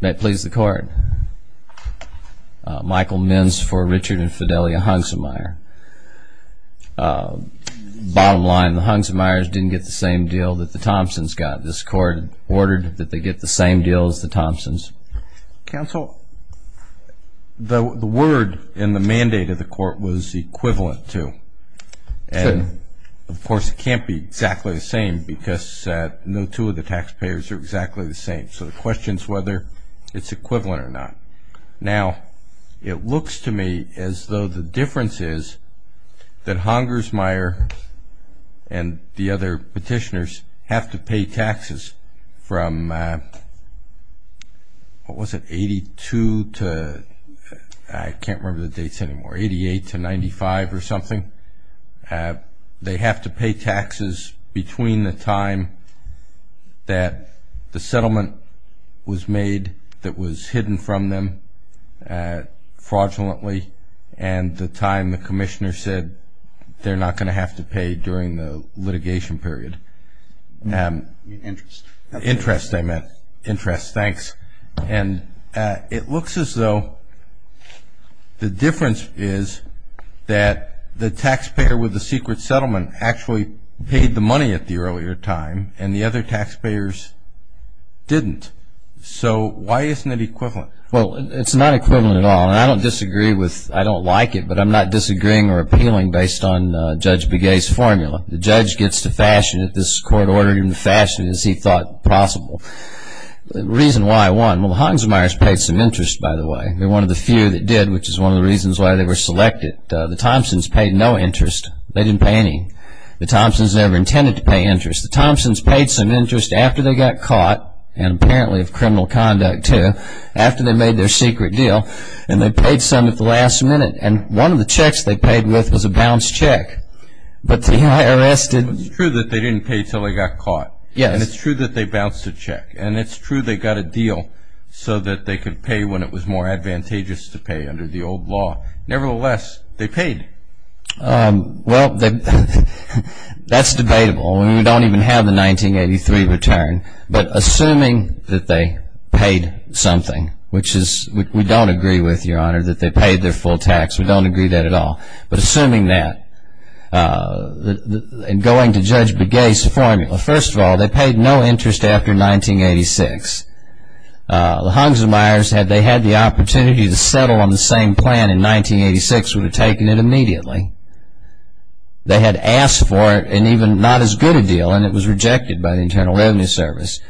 May it please the Court. Michael Minns for Richard and Fidelia Hounsermeier. Bottom line, the Hounsermeiers didn't get the same deal that the Thompsons got. This Court ordered that they get the same deal as the Thompsons. Counsel, the word in the mandate of the Court was equivalent to. And, of course, it can't be exactly the same because no two of the taxpayers are exactly the same. So the question is whether it's equivalent or not. Now, it looks to me as though the difference is that Hounsermeier and the other petitioners have to pay taxes from, what was it, 82 to, I can't remember the dates anymore, 88 to 95 or something. They have to pay taxes between the time that the settlement was made that was hidden from them fraudulently and the time the Commissioner said they're not going to have to pay during the litigation period. Interest, I meant. Interest, thanks. And it looks as though the difference is that the taxpayer with the secret settlement actually paid the money at the earlier time and the other taxpayers didn't. So why isn't it equivalent? Well, it's not equivalent at all. And I don't disagree with, I don't like it, but I'm not disagreeing or appealing based on Judge Begay's formula. The judge gets to fashion it. This Court ordered him to fashion it as he thought possible. The reason why, one, well, Hounsermeier's paid some interest, by the way. They're one of the few that did, which is one of the reasons why they were selected. The Thompsons paid no interest. They didn't pay any. The Thompsons never intended to pay interest. The Thompsons paid some interest after they got caught, and apparently of criminal conduct, too, after they made their secret deal. And they paid some at the last minute. And one of the checks they paid with was a bounced check. But the IRS didn't... But it's true that they didn't pay until they got caught. And it's true that they bounced a check. And it's true they got a deal so that they could pay when it was more advantageous to pay under the old law. Nevertheless, they paid. Well, that's debatable. We don't even have the 1983 return. But assuming that they paid something, which we don't agree with, Your Honor, that they paid their full tax. We don't agree with that at all. But assuming that, and going to Judge Begay's formula, first of all, they paid no interest after 1986. The Hunsermeyers, had they had the opportunity to settle on the same plan in 1986, would have taken it immediately. They had asked for it, and even not as good a deal, and it was rejected by the Internal Revenue Service.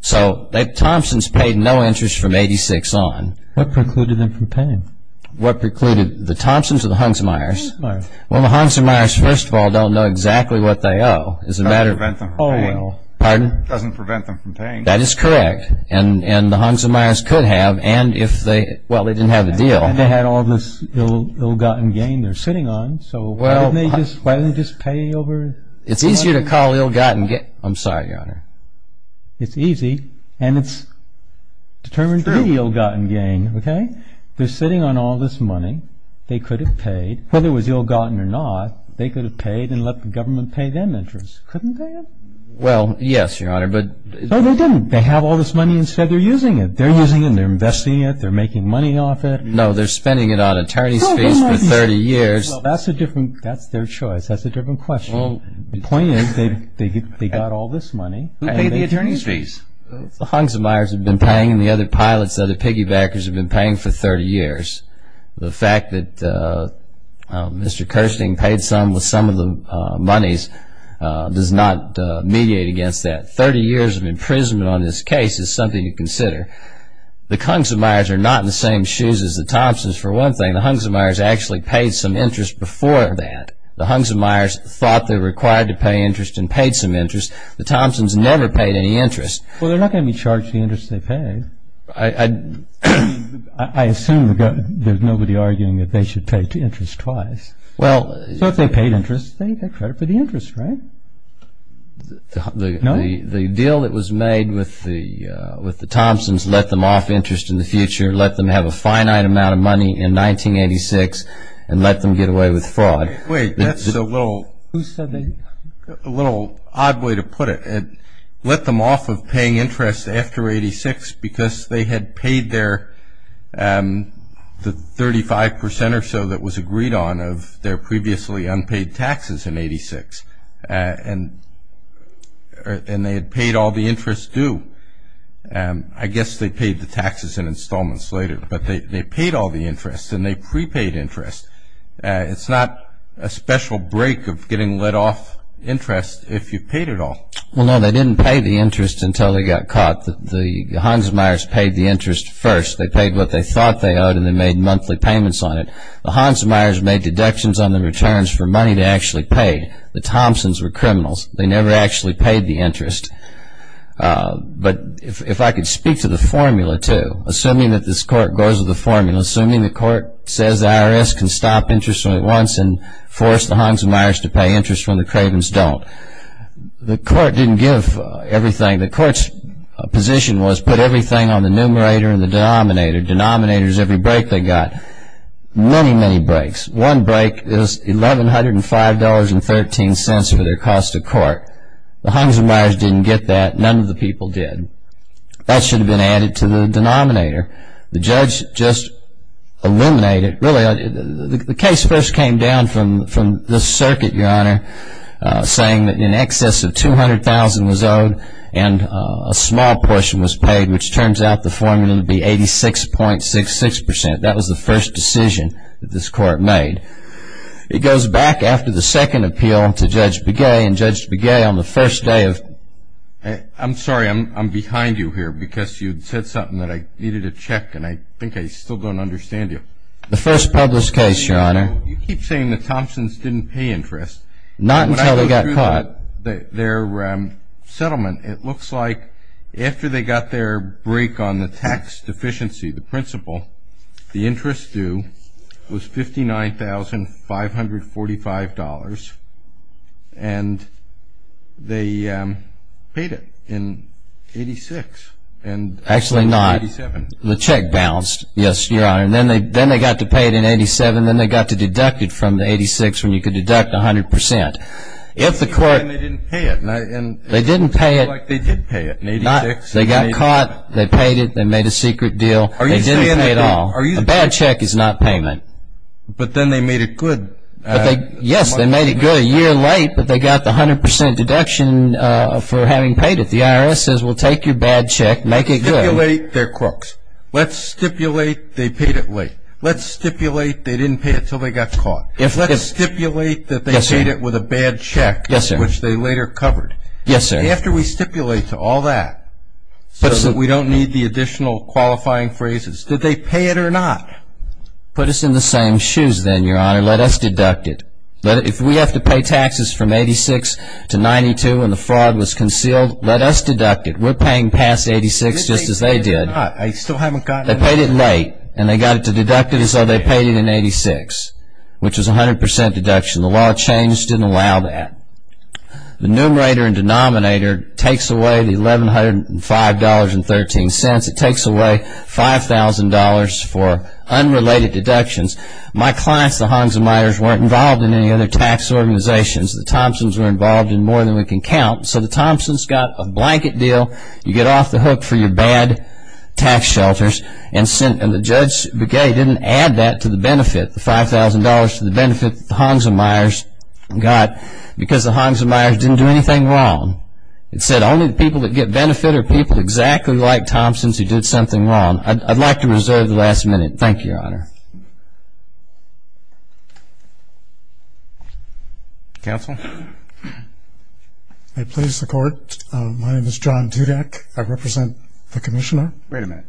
So the Thompsons paid no interest from 1986 on. What precluded them from paying? What precluded the Thompsons or the Hunsermeyers? The Hunsermeyers. Well, the Hunsermeyers, first of all, don't know exactly what they owe. It doesn't prevent them from paying. Pardon? It doesn't prevent them from paying. That is correct, and the Hunsermeyers could have, and if they, well, they didn't have the deal. And they had all this ill-gotten gain they're sitting on, so why didn't they just pay over the money? It's easier to call ill-gotten gain, I'm sorry, Your Honor. It's easy, and it's determined to be ill-gotten gain, okay? They're sitting on all this money, they could have paid, whether it was ill-gotten or not, they could have paid and let the government pay them interest. Couldn't they have? Well, yes, Your Honor, but No, they didn't. They have all this money and said they're using it. They're using it and they're investing it. They're making money off it. No, they're spending it on attorney's fees for 30 years. Well, that's a different, that's their choice. That's a different question. The point is they got all this money Who paid the attorney's fees? The Hunsermeyers have been paying and the other pilots, the other piggybackers have been paying for 30 years. The fact that Mr. Kirsting paid some with some of the monies does not mediate against that. 30 years of imprisonment on this case is something to consider. The Hunsermeyers are not in the same shoes as the Thompsons for one thing. The Hunsermeyers actually paid some interest before that. The Hunsermeyers thought they were required to pay interest and paid some interest. The Thompsons never paid any interest. Well, they're not going to be charged the interest they paid. I assume there's nobody arguing that they should pay interest twice. Well So if they paid interest, they get credit for the interest, right? No. The deal that was made with the Thompsons let them off interest in the future, let them have a finite amount of money in 1986, and let them get away with fraud. Wait, that's a little Who said that? A little odd way to put it. It let them off of paying interest after 86 because they had paid their 35 percent or so that was agreed on of their previously unpaid taxes in 86, and they had paid all the interest due. I guess they paid the taxes in installments later, but they paid all the interest, and they prepaid interest. It's not a special break of getting let off interest if you've paid it all. Well, no, they didn't pay the interest until they got caught. The Hunsermeyers paid the interest first. They paid what they thought they owed, and they made monthly payments on it. The Hunsermeyers made deductions on the returns for money they actually paid. The Thompsons were criminals. They never actually paid the interest. But if I could speak to the formula, too, assuming that this court goes with the formula, assuming the court says the IRS can stop interest at once and force the Hunsermeyers to pay interest when the Cravens don't, the court didn't give everything. The court's position was put everything on the numerator and the denominator. Denominator is every break they got. Many, many breaks. One break is $1,105.13 for their cost of court. The Hunsermeyers didn't get that. None of the people did. That should have been added to the denominator. The judge just eliminated it. Really, the case first came down from the circuit, Your Honor, saying that in excess of $200,000 was owed and a small portion was paid, which turns out the formula to be 86.66%. That was the first decision that this court made. It goes back after the second appeal to Judge Begay, and Judge Begay on the first day of... I'm sorry. I'm behind you here because you said something that I needed to check, and I think I still don't understand you. The first publicist case, Your Honor. You keep saying the Thompsons didn't pay interest. Not until they got caught. When I go through their settlement, it looks like after they got their break on the tax deficiency, the principle, the interest due was $59,545, and they paid it in 86. Actually not. In 87. The check bounced, yes, Your Honor. Then they got to pay it in 87, then they got to deduct it from the 86 when you could deduct 100%. If the court... They didn't pay it. They didn't pay it. It looks like they did pay it in 86. They got caught. They paid it. They made a secret deal. They didn't pay it all. A bad check is not payment. But then they made it good. Yes, they made it good a year late, but they got the 100% deduction for having paid it. The IRS says, well, take your bad check, make it good. Stipulate they're crooks. Let's stipulate they paid it late. Let's stipulate they didn't pay it until they got caught. Let's stipulate that they paid it with a bad check, which they later covered. Yes, sir. After we stipulate to all that so that we don't need the additional qualifying phrases, did they pay it or not? Put us in the same shoes then, Your Honor. Let us deduct it. If we have to pay taxes from 86 to 92 and the fraud was concealed, let us deduct it. We're paying past 86 just as they did. I still haven't gotten... They paid it late, and they got it to deduct it, and so they paid it in 86, which is 100% deduction. The law changed and didn't allow that. The numerator and denominator takes away the $1,105.13. It takes away $5,000 for unrelated deductions. My clients, the Hongsamiters, weren't involved in any other tax organizations. The Thompsons were involved in more than we can count. So the Thompsons got a blanket deal. You get off the hook for your bad tax shelters, and the Judge's Brigade didn't add that to the benefit, the Hongsamiters got because the Hongsamiters didn't do anything wrong. It said only the people that get benefit are people exactly like Thompsons who did something wrong. I'd like to reserve the last minute. Thank you, Your Honor. Counsel? May it please the Court. I represent the Commissioner. Wait a minute.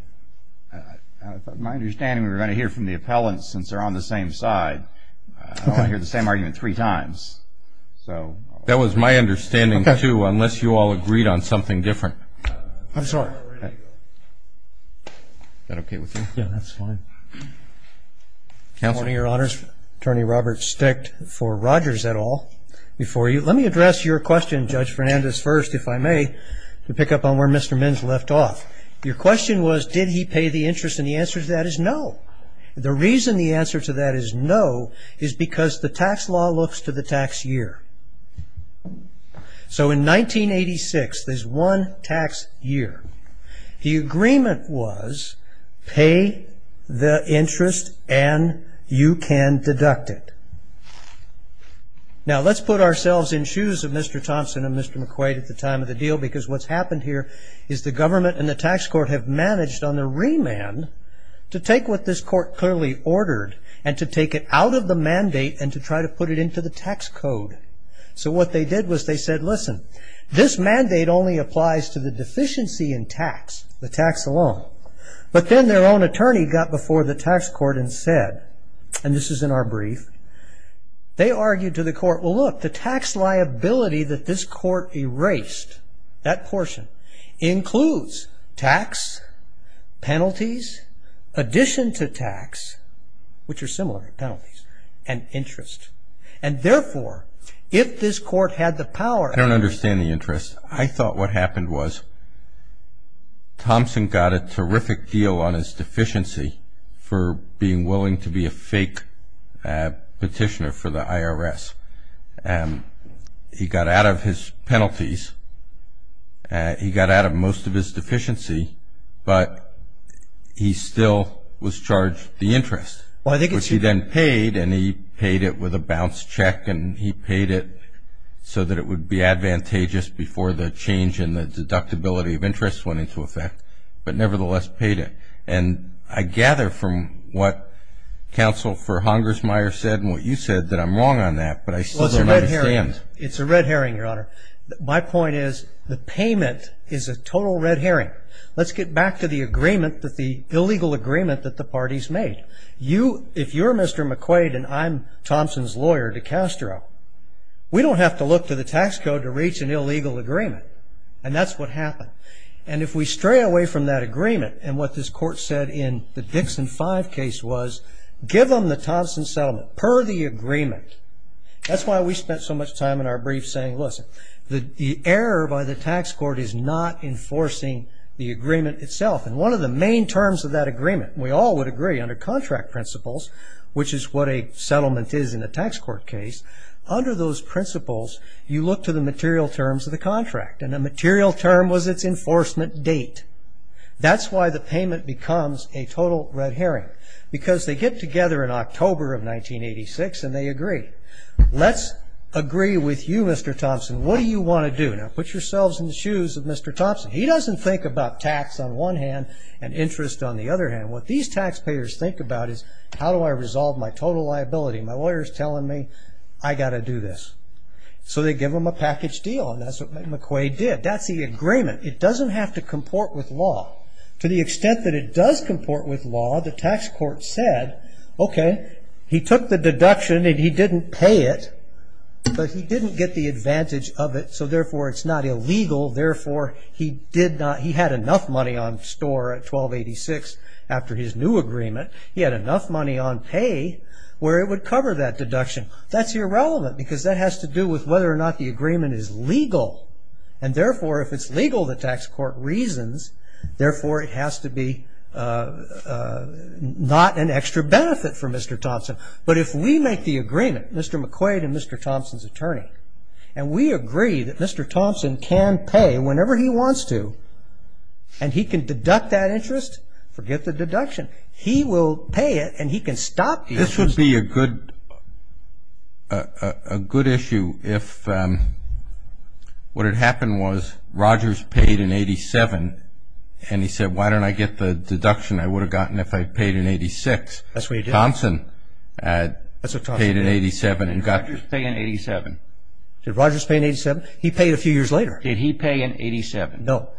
My understanding, we're going to hear from the appellants since they're on the same side. I only hear the same argument three times. That was my understanding, too, unless you all agreed on something different. I'm sorry. Is that okay with you? Yeah, that's fine. Counsel? Good morning, Your Honors. Attorney Robert Sticht for Rogers et al. Let me address your question, Judge Fernandez, first, if I may, to pick up on where Mr. Minns left off. Your question was did he pay the interest, and the answer to that is no. The reason the answer to that is no is because the tax law looks to the tax year. So in 1986, there's one tax year. The agreement was pay the interest and you can deduct it. Now, let's put ourselves in shoes of Mr. Thompson and Mr. McQuade at the time of the deal because what's happened here is the government and the tax court have managed on their remand to take what this court clearly ordered and to take it out of the mandate and to try to put it into the tax code. So what they did was they said, listen, this mandate only applies to the deficiency in tax, the tax alone. But then their own attorney got before the tax court and said, and this is in our brief, they argued to the court, well, look, the tax liability that this court erased, that portion, includes tax, penalties, addition to tax, which are similar penalties, and interest. And therefore, if this court had the power to I don't understand the interest. I thought what happened was Thompson got a terrific deal on his deficiency for being willing to be a fake petitioner for the IRS. He got out of his penalties. He got out of most of his deficiency, but he still was charged the interest, which he then paid, and he paid it with a bounce check, and he paid it so that it would be advantageous before the change in the deductibility of interest went into effect, but nevertheless paid it. And I gather from what Counsel for Hongersmeyer said and what you said that I'm wrong on that, but I still don't understand. Well, it's a red herring. It's a red herring, Your Honor. My point is the payment is a total red herring. Let's get back to the agreement, the illegal agreement that the parties made. If you're Mr. McQuaid and I'm Thompson's lawyer, DiCastro, we don't have to look to the tax code to reach an illegal agreement, and that's what happened. And if we stray away from that agreement and what this court said in the Dixon 5 case was, give them the Thompson settlement per the agreement. That's why we spent so much time in our brief saying, listen, the error by the tax court is not enforcing the agreement itself. And one of the main terms of that agreement, and we all would agree under contract principles, which is what a settlement is in a tax court case, under those principles, you look to the material terms of the contract. And the material term was its enforcement date. That's why the payment becomes a total red herring, because they get together in October of 1986 and they agree. Let's agree with you, Mr. Thompson. What do you want to do? Now, put yourselves in the shoes of Mr. Thompson. He doesn't think about tax on one hand and interest on the other hand. What these taxpayers think about is, how do I resolve my total liability? My lawyer is telling me I've got to do this. So they give him a package deal, and that's what McQuay did. That's the agreement. It doesn't have to comport with law. To the extent that it does comport with law, the tax court said, okay, he took the deduction and he didn't pay it, but he didn't get the advantage of it, so therefore it's not illegal. Therefore, he had enough money on store at 1286 after his new agreement. He had enough money on pay where it would cover that deduction. That's irrelevant, because that has to do with whether or not the agreement is legal. And therefore, if it's legal, the tax court reasons. Therefore, it has to be not an extra benefit for Mr. Thompson. But if we make the agreement, Mr. McQuade and Mr. Thompson's attorney, and we agree that Mr. Thompson can pay whenever he wants to, and he can deduct that interest, forget the deduction. He will pay it and he can stop the interest. This would be a good issue if what had happened was Rogers paid in 87 and he said, why don't I get the deduction I would have gotten if I had paid in 86? That's what he did. Thompson paid in 87 and got the deduction. Did Rogers pay in 87? Did Rogers pay in 87? He paid a few years later. Did he pay in 87? No.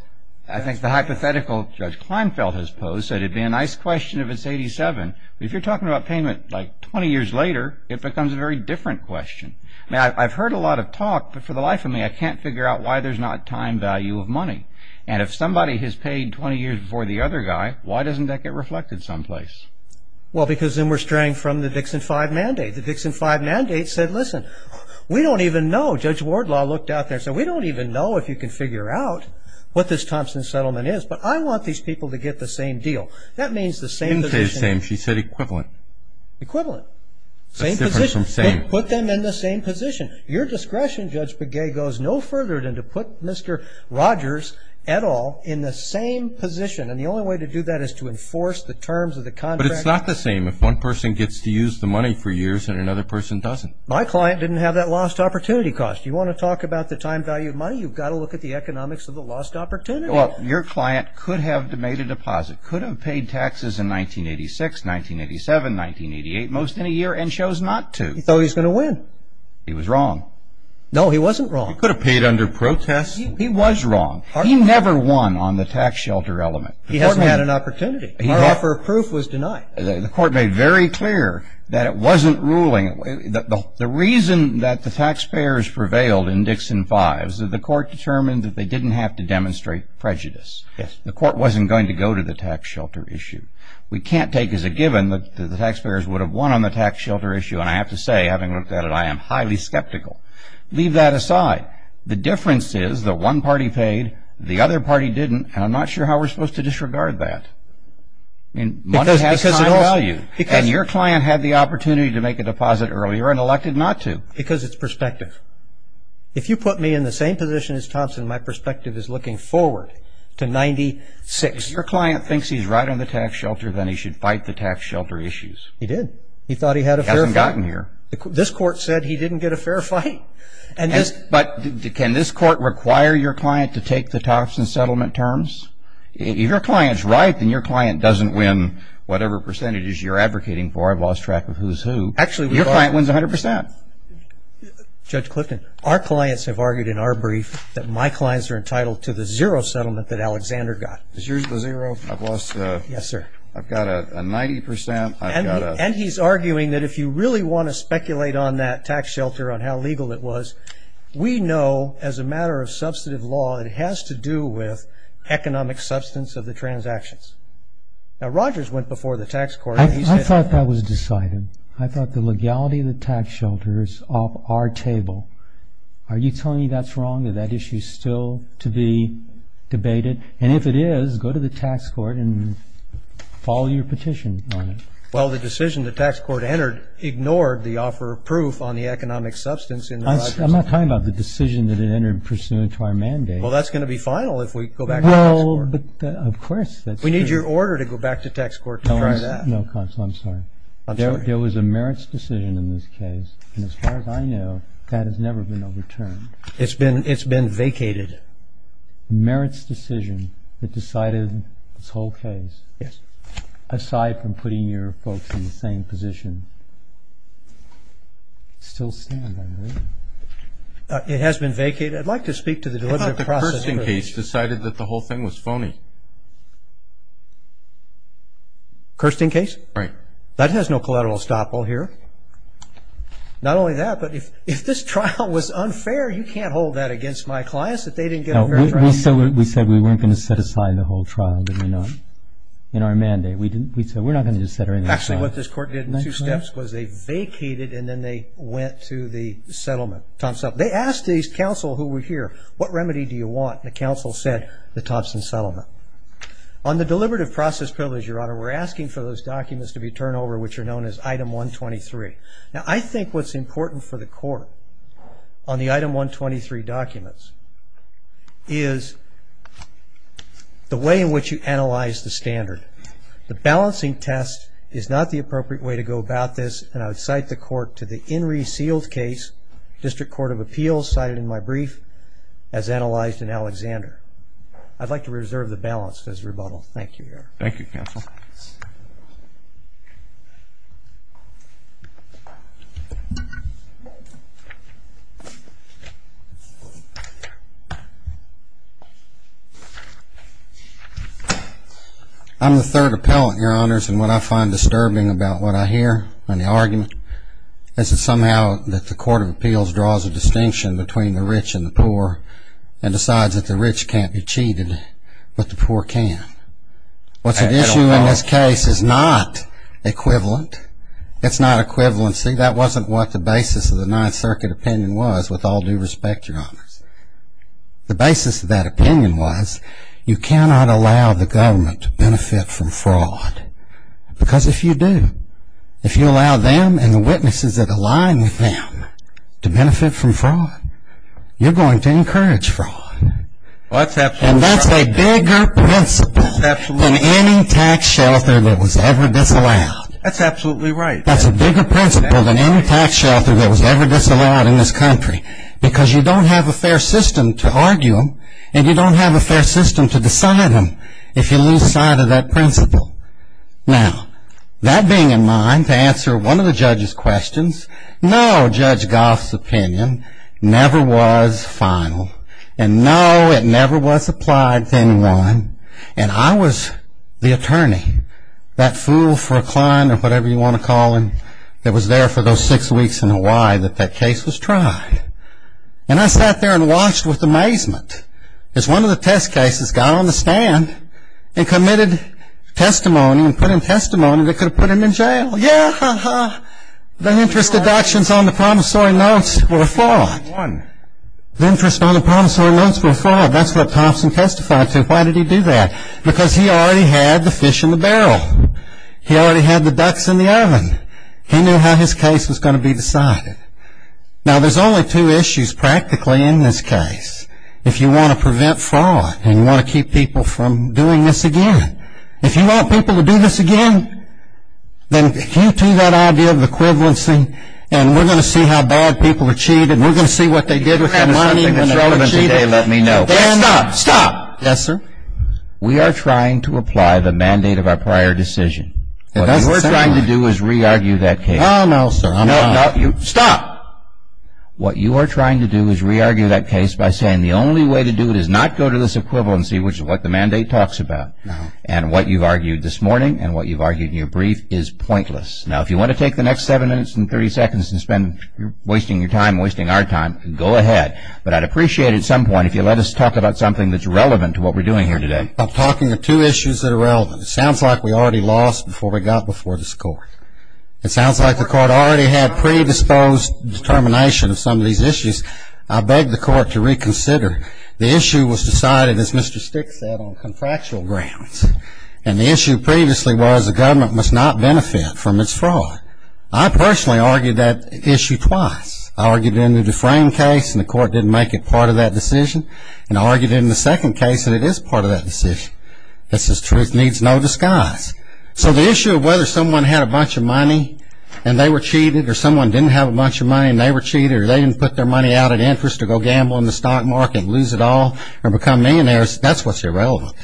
I think the hypothetical Judge Kleinfeld has posed said it would be a nice question if it's 87. But if you're talking about payment like 20 years later, it becomes a very different question. I've heard a lot of talk, but for the life of me, I can't figure out why there's not time value of money. And if somebody has paid 20 years before the other guy, why doesn't that get reflected someplace? Well, because then we're straying from the Dixon 5 mandate. The Dixon 5 mandate said, listen, we don't even know. Judge Wardlaw looked out there and said, we don't even know if you can figure out what this Thompson settlement is. But I want these people to get the same deal. That means the same position. Didn't say same. She said equivalent. Equivalent. That's different from same. Same position. Put them in the same position. Your discretion, Judge Begay, goes no further than to put Mr. Rogers et al. in the same position. And the only way to do that is to enforce the terms of the contract. But it's not the same if one person gets to use the money for years and another person doesn't. My client didn't have that lost opportunity cost. You want to talk about the time value of money, you've got to look at the economics of the lost opportunity. Well, your client could have made a deposit, could have paid taxes in 1986, 1987, 1988, most any year, and chose not to. He thought he was going to win. He was wrong. No, he wasn't wrong. He could have paid under protest. He was wrong. He never won on the tax shelter element. He hasn't had an opportunity. My offer of proof was denied. The court made very clear that it wasn't ruling. The reason that the taxpayers prevailed in Dixon V is that the court determined that they didn't have to demonstrate prejudice. The court wasn't going to go to the tax shelter issue. We can't take as a given that the taxpayers would have won on the tax shelter issue. And I have to say, having looked at it, I am highly skeptical. Leave that aside. The difference is that one party paid, the other party didn't, and I'm not sure how we're supposed to disregard that. Money has time value. And your client had the opportunity to make a deposit earlier and elected not to. Because it's perspective. If you put me in the same position as Thompson, my perspective is looking forward to 1996. If your client thinks he's right on the tax shelter, then he should fight the tax shelter issues. He did. He thought he had a fair fight. He hasn't gotten here. This court said he didn't get a fair fight. But can this court require your client to take the Thompson settlement terms? If your client's right, then your client doesn't win whatever percentages you're advocating for. I've lost track of who's who. Actually, we've lost. Your client wins 100%. Judge Clifton, our clients have argued in our brief that my clients are entitled to the zero settlement that Alexander got. Is yours the zero? I've lost. Yes, sir. I've got a 90%. And he's arguing that if you really want to speculate on that tax shelter, on how legal it was, we know as a matter of substantive law that it has to do with economic substance of the transactions. Now, Rogers went before the tax court and he said that was decided. I thought that was decided. I thought the legality of the tax shelter is off our table. Are you telling me that's wrong, that that issue is still to be debated? And if it is, go to the tax court and follow your petition on it. Well, the decision the tax court entered ignored the offer of proof on the economic substance. I'm not talking about the decision that it entered pursuant to our mandate. Well, that's going to be final if we go back to the tax court. Of course. We need your order to go back to tax court to try that. No, Counsel, I'm sorry. There was a merits decision in this case, and as far as I know, that has never been overturned. It's been vacated. The merits decision that decided this whole case, aside from putting your folks in the same position, still stands, I believe. It has been vacated. I'd like to speak to the delivery process. I thought the Kirsten case decided that the whole thing was phony. Kirsten case? Right. That has no collateral estoppel here. Not only that, but if this trial was unfair, you can't hold that against my clients that they didn't get a very fair trial. We said we weren't going to set aside the whole trial, did we not, in our mandate? We said we're not going to set aside the trial. Actually, what this court did in two steps was they vacated and then they went to the settlement, Thompson Settlement. They asked these counsel who were here, what remedy do you want? And the counsel said the Thompson Settlement. On the deliberative process privilege, Your Honor, we're asking for those documents to be turned over, which are known as Item 123. Now, I think what's important for the court on the Item 123 documents is the way in which you analyze the standard. The balancing test is not the appropriate way to go about this, and I would cite the court to the In Re Sealed case, District Court of Appeals cited in my brief, as analyzed in Alexander. I'd like to reserve the balance because of rebuttal. Thank you, Your Honor. Thank you, Counsel. I'm the third appellant, Your Honors, and what I find disturbing about what I hear on the argument is that somehow the Court of Appeals draws a distinction between the rich and the poor and decides that the rich can't be cheated, but the poor can. What's at issue in this case is not equivalent. It's not equivalency. That wasn't what the basis of the Ninth Circuit opinion was, with all due respect, Your Honors. The basis of that opinion was you cannot allow the government to benefit from fraud. Because if you do, if you allow them and the witnesses that align with them to benefit from fraud, you're going to encourage fraud. And that's a bigger principle than any tax shelter that was ever disallowed. That's absolutely right. That's a bigger principle than any tax shelter that was ever disallowed in this country because you don't have a fair system to argue them, and you don't have a fair system to decide them if you lose sight of that principle. Now, that being in mind, to answer one of the judge's questions, no, Judge Goff's opinion never was final, and no, it never was applied to anyone. And I was the attorney, that fool for a client or whatever you want to call him that was there for those six weeks in Hawaii that that case was tried. And I sat there and watched with amazement as one of the test cases got on the stand and committed testimony and put in testimony that could have put him in jail. Yeah, the interest deductions on the promissory notes were a fraud. The interest on the promissory notes were a fraud. That's what Thompson testified to. Why did he do that? Because he already had the fish in the barrel. He already had the ducks in the oven. He knew how his case was going to be decided. Now, there's only two issues practically in this case. If you want to prevent fraud and you want to keep people from doing this again, if you want people to do this again, then cue to that idea of equivalency and we're going to see how bad people are cheated and we're going to see what they did with their money when they were cheated. Let me know. Stop, stop. Yes, sir. We are trying to apply the mandate of our prior decision. What you are trying to do is re-argue that case. No, no, sir. Stop. What you are trying to do is re-argue that case by saying the only way to do it is not go to this equivalency, which is what the mandate talks about. No. And what you've argued this morning and what you've argued in your brief is pointless. Now, if you want to take the next 7 minutes and 30 seconds and spend wasting your time and wasting our time, go ahead. But I'd appreciate it at some point if you'd let us talk about something that's relevant to what we're doing here today. I'm talking of two issues that are relevant. It sounds like we already lost before we got before this Court. It sounds like the Court already had predisposed determination of some of these issues. I beg the Court to reconsider. The issue was decided, as Mr. Stick said, on contractual grounds. And the issue previously was the government must not benefit from its fraud. I personally argued that issue twice. I argued it in the deframed case, and the Court didn't make it part of that decision. And I argued it in the second case, and it is part of that decision. It says truth needs no disguise. Or someone didn't have a bunch of money, and they were cheated. Or they didn't put their money out of interest or go gamble in the stock market and lose it all or become millionaires. That's what's irrelevant.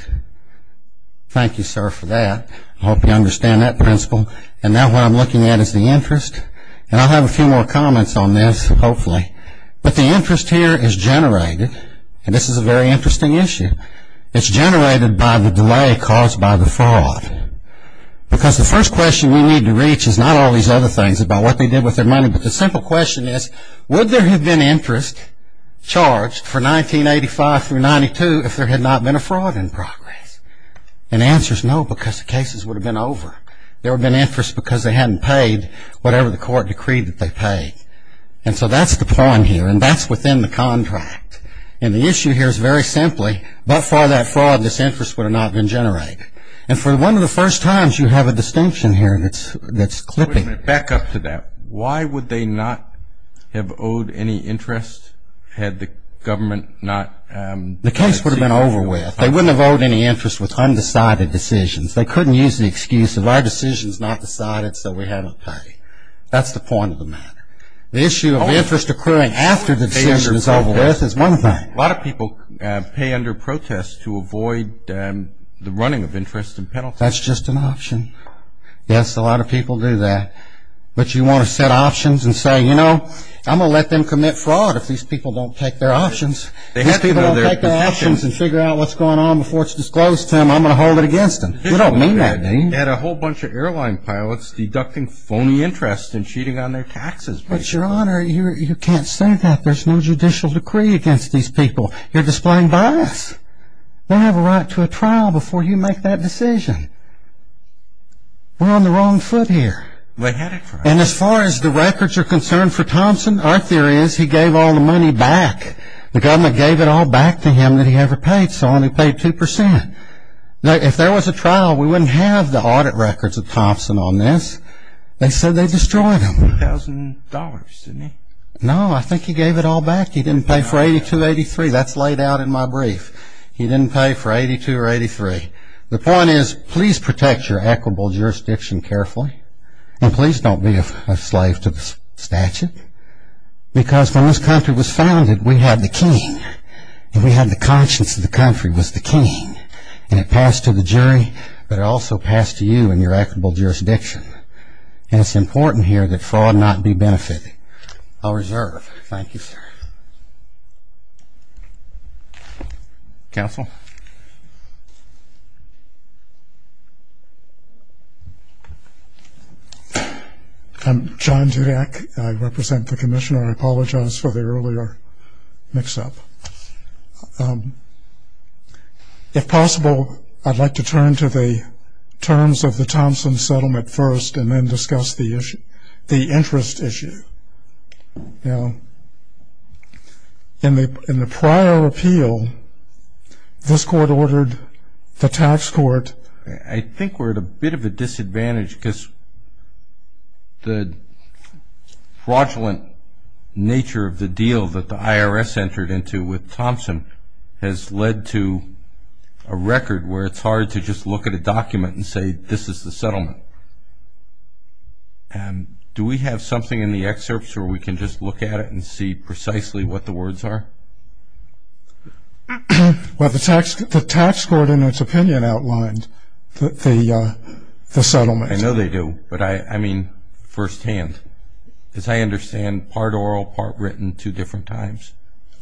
Thank you, sir, for that. I hope you understand that principle. And now what I'm looking at is the interest. And I'll have a few more comments on this, hopefully. But the interest here is generated, and this is a very interesting issue. It's generated by the delay caused by the fraud. Because the first question we need to reach is not all these other things about what they did with their money, but the simple question is, would there have been interest charged for 1985 through 1992 if there had not been a fraud in progress? And the answer is no, because the cases would have been over. There would have been interest because they hadn't paid whatever the Court decreed that they paid. And so that's the point here, and that's within the contract. And the issue here is very simply, but for that fraud, this interest would have not been generated. And for one of the first times, you have a distinction here that's clipping. Back up to that. Why would they not have owed any interest had the government not? The case would have been over with. They wouldn't have owed any interest with undecided decisions. They couldn't use the excuse of our decision is not decided, so we have to pay. That's the point of the matter. The issue of interest occurring after the decision is over with is one thing. A lot of people pay under protest to avoid the running of interest and penalties. That's just an option. Yes, a lot of people do that. But you want to set options and say, you know, I'm going to let them commit fraud if these people don't take their options. If these people don't take their options and figure out what's going on before it's disclosed to them, I'm going to hold it against them. You don't mean that, do you? They had a whole bunch of airline pilots deducting phony interest and cheating on their taxes. But, Your Honor, you can't say that. There's no judicial decree against these people. You're displaying bias. They have a right to a trial before you make that decision. We're on the wrong foot here. They had a trial. And as far as the records are concerned for Thompson, our theory is he gave all the money back. The government gave it all back to him that he ever paid, so he only paid 2%. If there was a trial, we wouldn't have the audit records of Thompson on this. They said they destroyed him. $1,000, didn't he? No, I think he gave it all back. He didn't pay for 82, 83. That's laid out in my brief. He didn't pay for 82 or 83. The point is, please protect your equitable jurisdiction carefully. And please don't be a slave to the statute. Because when this country was founded, we had the king. And we had the conscience that the country was the king. And it passed to the jury, but it also passed to you and your equitable jurisdiction. And it's important here that fraud not be benefited. I'll reserve. Thank you, sir. Counsel? I'm John Dudak. I represent the commissioner. I apologize for the earlier mix-up. If possible, I'd like to turn to the terms of the Thompson settlement first and then discuss the interest issue. Now, in the prior appeal, this court ordered the tax court. I think we're at a bit of a disadvantage, because the fraudulent nature of the deal that the IRS entered into with Thompson has led to a record where it's hard to just look at a document and say, this is the settlement. Do we have something in the excerpts where we can just look at it and see precisely what the words are? Well, the tax court, in its opinion, outlined the settlement. I know they do, but I mean firsthand, because I understand part oral, part written, two different times.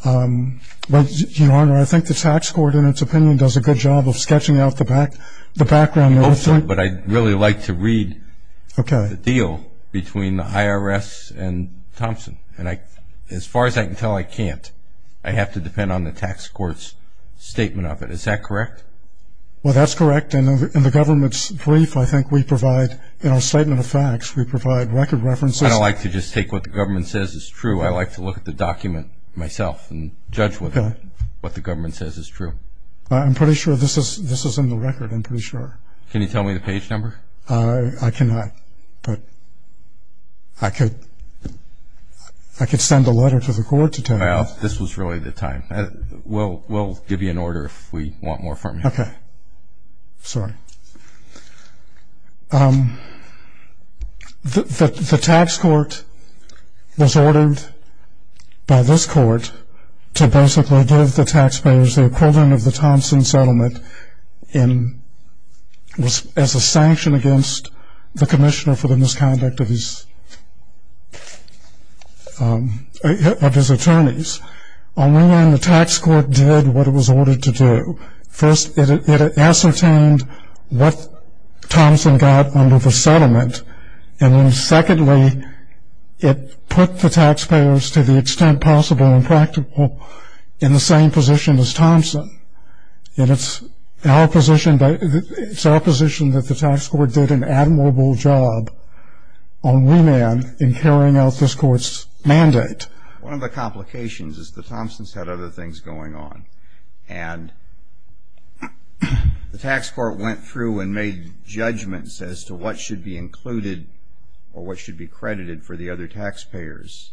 Your Honor, I think the tax court, in its opinion, does a good job of sketching out the background. I hope so, but I'd really like to read the deal between the IRS and Thompson. As far as I can tell, I can't. I have to depend on the tax court's statement of it. Is that correct? Well, that's correct. In the government's brief, I think we provide, in our statement of facts, we provide record references. I don't like to just take what the government says is true. I like to look at the document myself and judge what the government says is true. I'm pretty sure this is in the record. I'm pretty sure. Can you tell me the page number? I cannot, but I could send a letter to the court to tell you. Well, this was really the time. We'll give you an order if we want more from you. Okay. Sorry. The tax court was ordered by this court to basically give the taxpayers the equivalent of the Thompson settlement as a sanction against the commissioner for the misconduct of his attorneys. On one hand, the tax court did what it was ordered to do. First, it ascertained what Thompson got under the settlement, and then secondly, it put the taxpayers to the extent possible and practical in the same position as Thompson. And it's our position that the tax court did an admirable job on Woman in carrying out this court's mandate. One of the complications is that Thompson's had other things going on, and the tax court went through and made judgments as to what should be included or what should be credited for the other taxpayers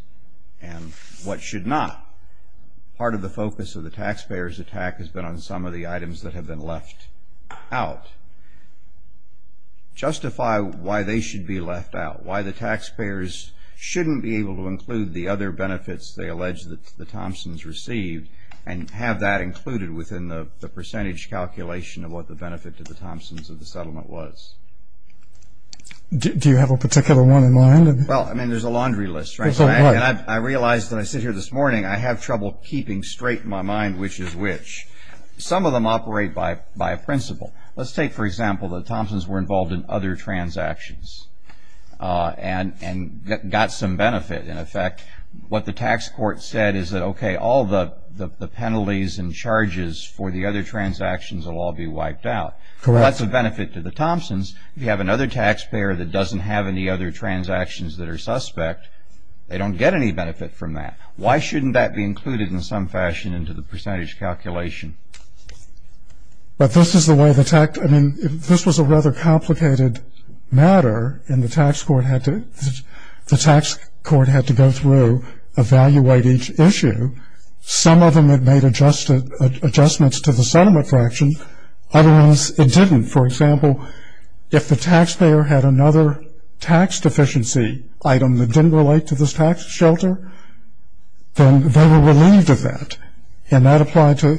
and what should not. Part of the focus of the taxpayers' attack has been on some of the items that have been left out. Justify why they should be left out, why the taxpayers shouldn't be able to include the other benefits they allege that the Thompsons received and have that included within the percentage calculation of what the benefit to the Thompsons of the settlement was. Do you have a particular one in mind? Well, I mean, there's a laundry list, right? I have trouble keeping straight in my mind which is which. Some of them operate by a principle. Let's take, for example, that Thompsons were involved in other transactions and got some benefit in effect. What the tax court said is that, okay, all the penalties and charges for the other transactions will all be wiped out. That's a benefit to the Thompsons. If you have another taxpayer that doesn't have any other transactions that are suspect, they don't get any benefit from that. Why shouldn't that be included in some fashion into the percentage calculation? But this is the way the tax – I mean, this was a rather complicated matter, and the tax court had to – the tax court had to go through, evaluate each issue. Some of them it made adjustments to the settlement fraction. Other ones it didn't. For example, if the taxpayer had another tax deficiency item that didn't relate to this tax shelter, then they were relieved of that, and that applied to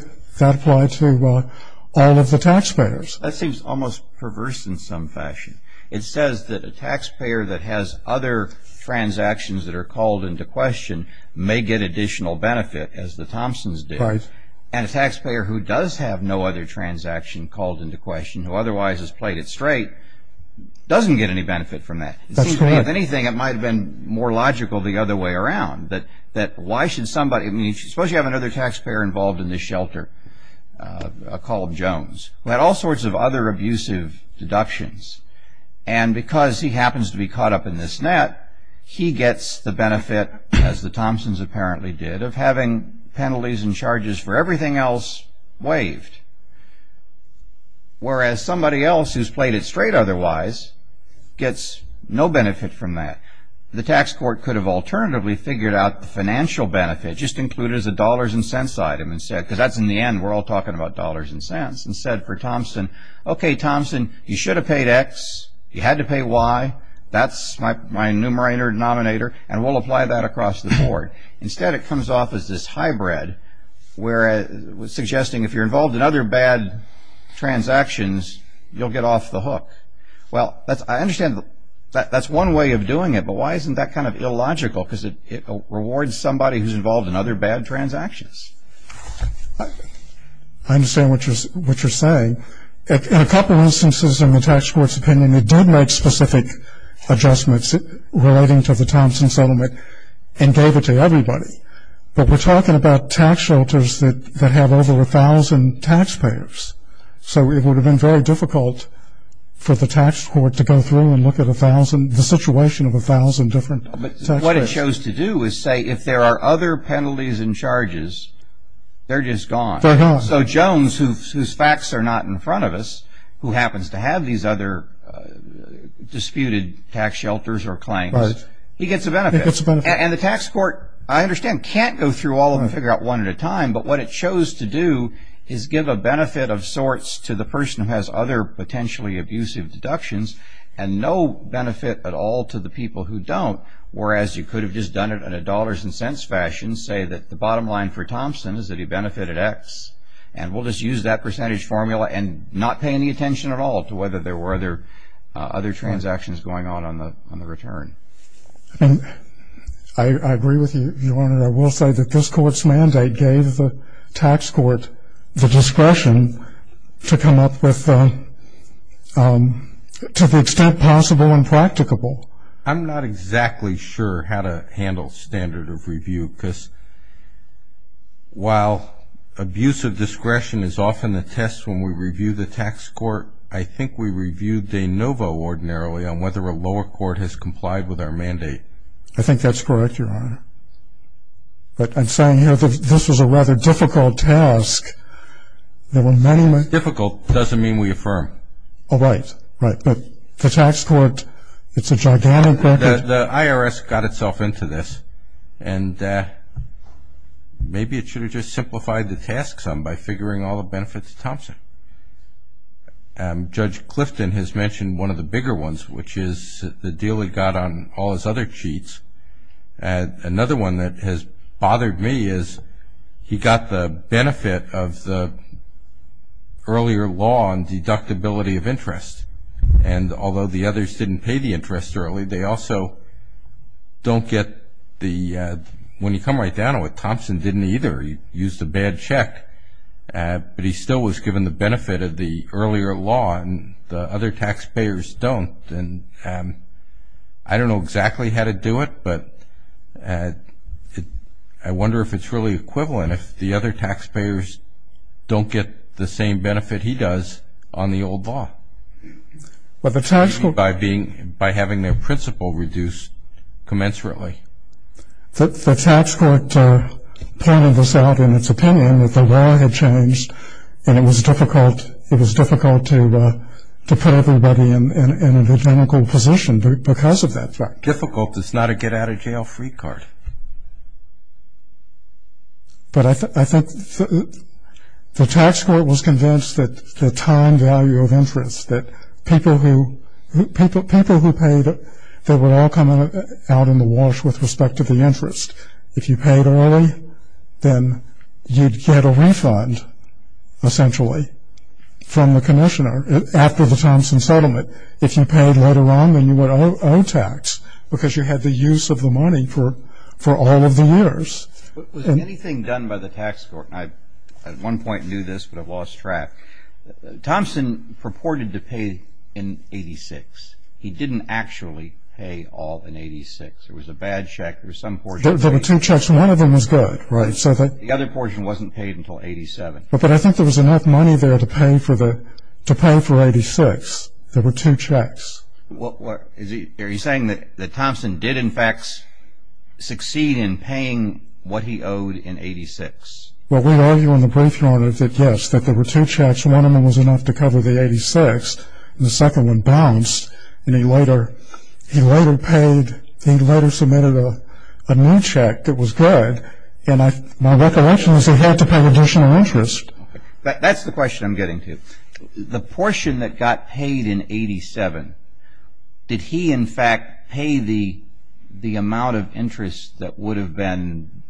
all of the taxpayers. That seems almost perverse in some fashion. It says that a taxpayer that has other transactions that are called into question may get additional benefit, as the Thompsons did. Right. And a taxpayer who does have no other transaction called into question, who otherwise has played it straight, doesn't get any benefit from that. That's correct. It seems to me, if anything, it might have been more logical the other way around, that why should somebody – I mean, suppose you have another taxpayer involved in this shelter, a column Jones, who had all sorts of other abusive deductions, and because he happens to be caught up in this net, he gets the benefit, as the Thompsons apparently did, of having penalties and charges for everything else waived. Whereas somebody else who's played it straight otherwise gets no benefit from that. The tax court could have alternatively figured out the financial benefit, just include it as a dollars and cents item instead, because that's in the end, we're all talking about dollars and cents, and said for Thompson, okay, Thompson, you should have paid X, you had to pay Y, that's my numerator and denominator, and we'll apply that across the board. Instead, it comes off as this hybrid, suggesting if you're involved in other bad transactions, you'll get off the hook. Well, I understand that's one way of doing it, but why isn't that kind of illogical? Because it rewards somebody who's involved in other bad transactions. I understand what you're saying. In a couple instances in the tax court's opinion, it did make specific adjustments relating to the Thompson settlement and gave it to everybody. But we're talking about tax shelters that have over 1,000 taxpayers. So it would have been very difficult for the tax court to go through and look at the situation of 1,000 different tax payers. What it shows to do is say if there are other penalties and charges, they're just gone. They're gone. So Jones, whose facts are not in front of us, who happens to have these other disputed tax shelters or claims, he gets a benefit. He gets a benefit. And the tax court, I understand, can't go through all of them and figure out one at a time. But what it shows to do is give a benefit of sorts to the person who has other potentially abusive deductions and no benefit at all to the people who don't, whereas you could have just done it in a dollars and cents fashion, say that the bottom line for Thompson is that he benefited X, and we'll just use that percentage formula and not pay any attention at all to whether there were other transactions going on on the return. I agree with you, Your Honor. I will say that this Court's mandate gave the tax court the discretion to come up with, to the extent possible and practicable. I'm not exactly sure how to handle standard of review, because while abusive discretion is often the test when we review the tax court, I think we review de novo ordinarily on whether a lower court has complied with our mandate. I think that's correct, Your Honor. But I'm saying here that this was a rather difficult task. Difficult doesn't mean we affirm. Oh, right, right. But the tax court, it's a gigantic record. The IRS got itself into this, and maybe it should have just simplified the task some by figuring all the benefits of Thompson. Judge Clifton has mentioned one of the bigger ones, which is the deal he got on all his other cheats. Another one that has bothered me is he got the benefit of the earlier law on deductibility of interest, and although the others didn't pay the interest early, they also don't get the – when you come right down to it, Thompson didn't either. He used a bad check, but he still was given the benefit of the earlier law, and the other taxpayers don't. And I don't know exactly how to do it, but I wonder if it's really equivalent if the other taxpayers don't get the same benefit he does on the old law, maybe by having their principal reduced commensurately. The tax court pointed this out in its opinion that the law had changed, and it was difficult to put everybody in an identical position because of that fact. It's difficult. It's not a get-out-of-jail-free card. But I think the tax court was convinced that the time value of interest, that people who paid it, they were all coming out in the wash with respect to the interest. If you paid early, then you'd get a refund, essentially, from the commissioner after the Thompson settlement. But if you paid later on, then you would owe tax because you had the use of the money for all of the years. Was anything done by the tax court – and I, at one point, knew this, but I've lost track – Thompson purported to pay in 1986. He didn't actually pay all in 1986. There was a bad check. There was some – There were two checks. One of them was good, right? The other portion wasn't paid until 87. But I think there was enough money there to pay for the – to pay for 86. There were two checks. Are you saying that Thompson did, in fact, succeed in paying what he owed in 86? Well, we argue in the brief, Your Honor, that yes, that there were two checks. One of them was enough to cover the 86, and the second one bounced. And he later paid – he later submitted a new check that was good. And my recollection is he had to pay additional interest. That's the question I'm getting to. The portion that got paid in 87, did he, in fact, pay the amount of interest that would have been,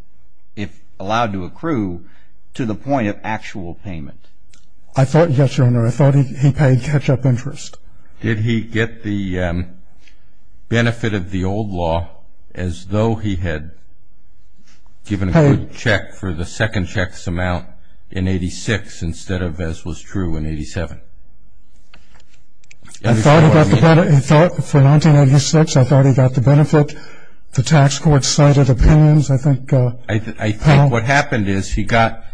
if allowed to accrue, to the point of actual payment? I thought – yes, Your Honor, I thought he paid catch-up interest. Did he get the benefit of the old law as though he had given a good check for the second check's amount in 86 instead of as was true in 87? Do you understand what I mean? He thought – for 1986, I thought he got the benefit. The tax court cited opinions. I think – I think what happened is he got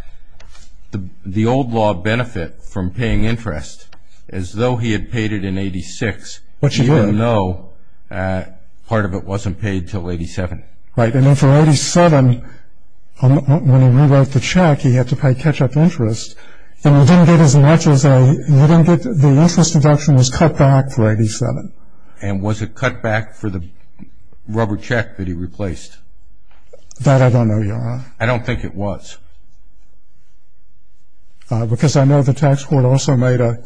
the old law benefit from paying interest as though he had paid it in 86, even though part of it wasn't paid until 87. Right. And then for 87, when he rewrote the check, he had to pay catch-up interest. And he didn't get as much as a – he didn't get – the interest deduction was cut back for 87. And was it cut back for the rubber check that he replaced? That I don't know, Your Honor. I don't think it was. Because I know the tax court also made a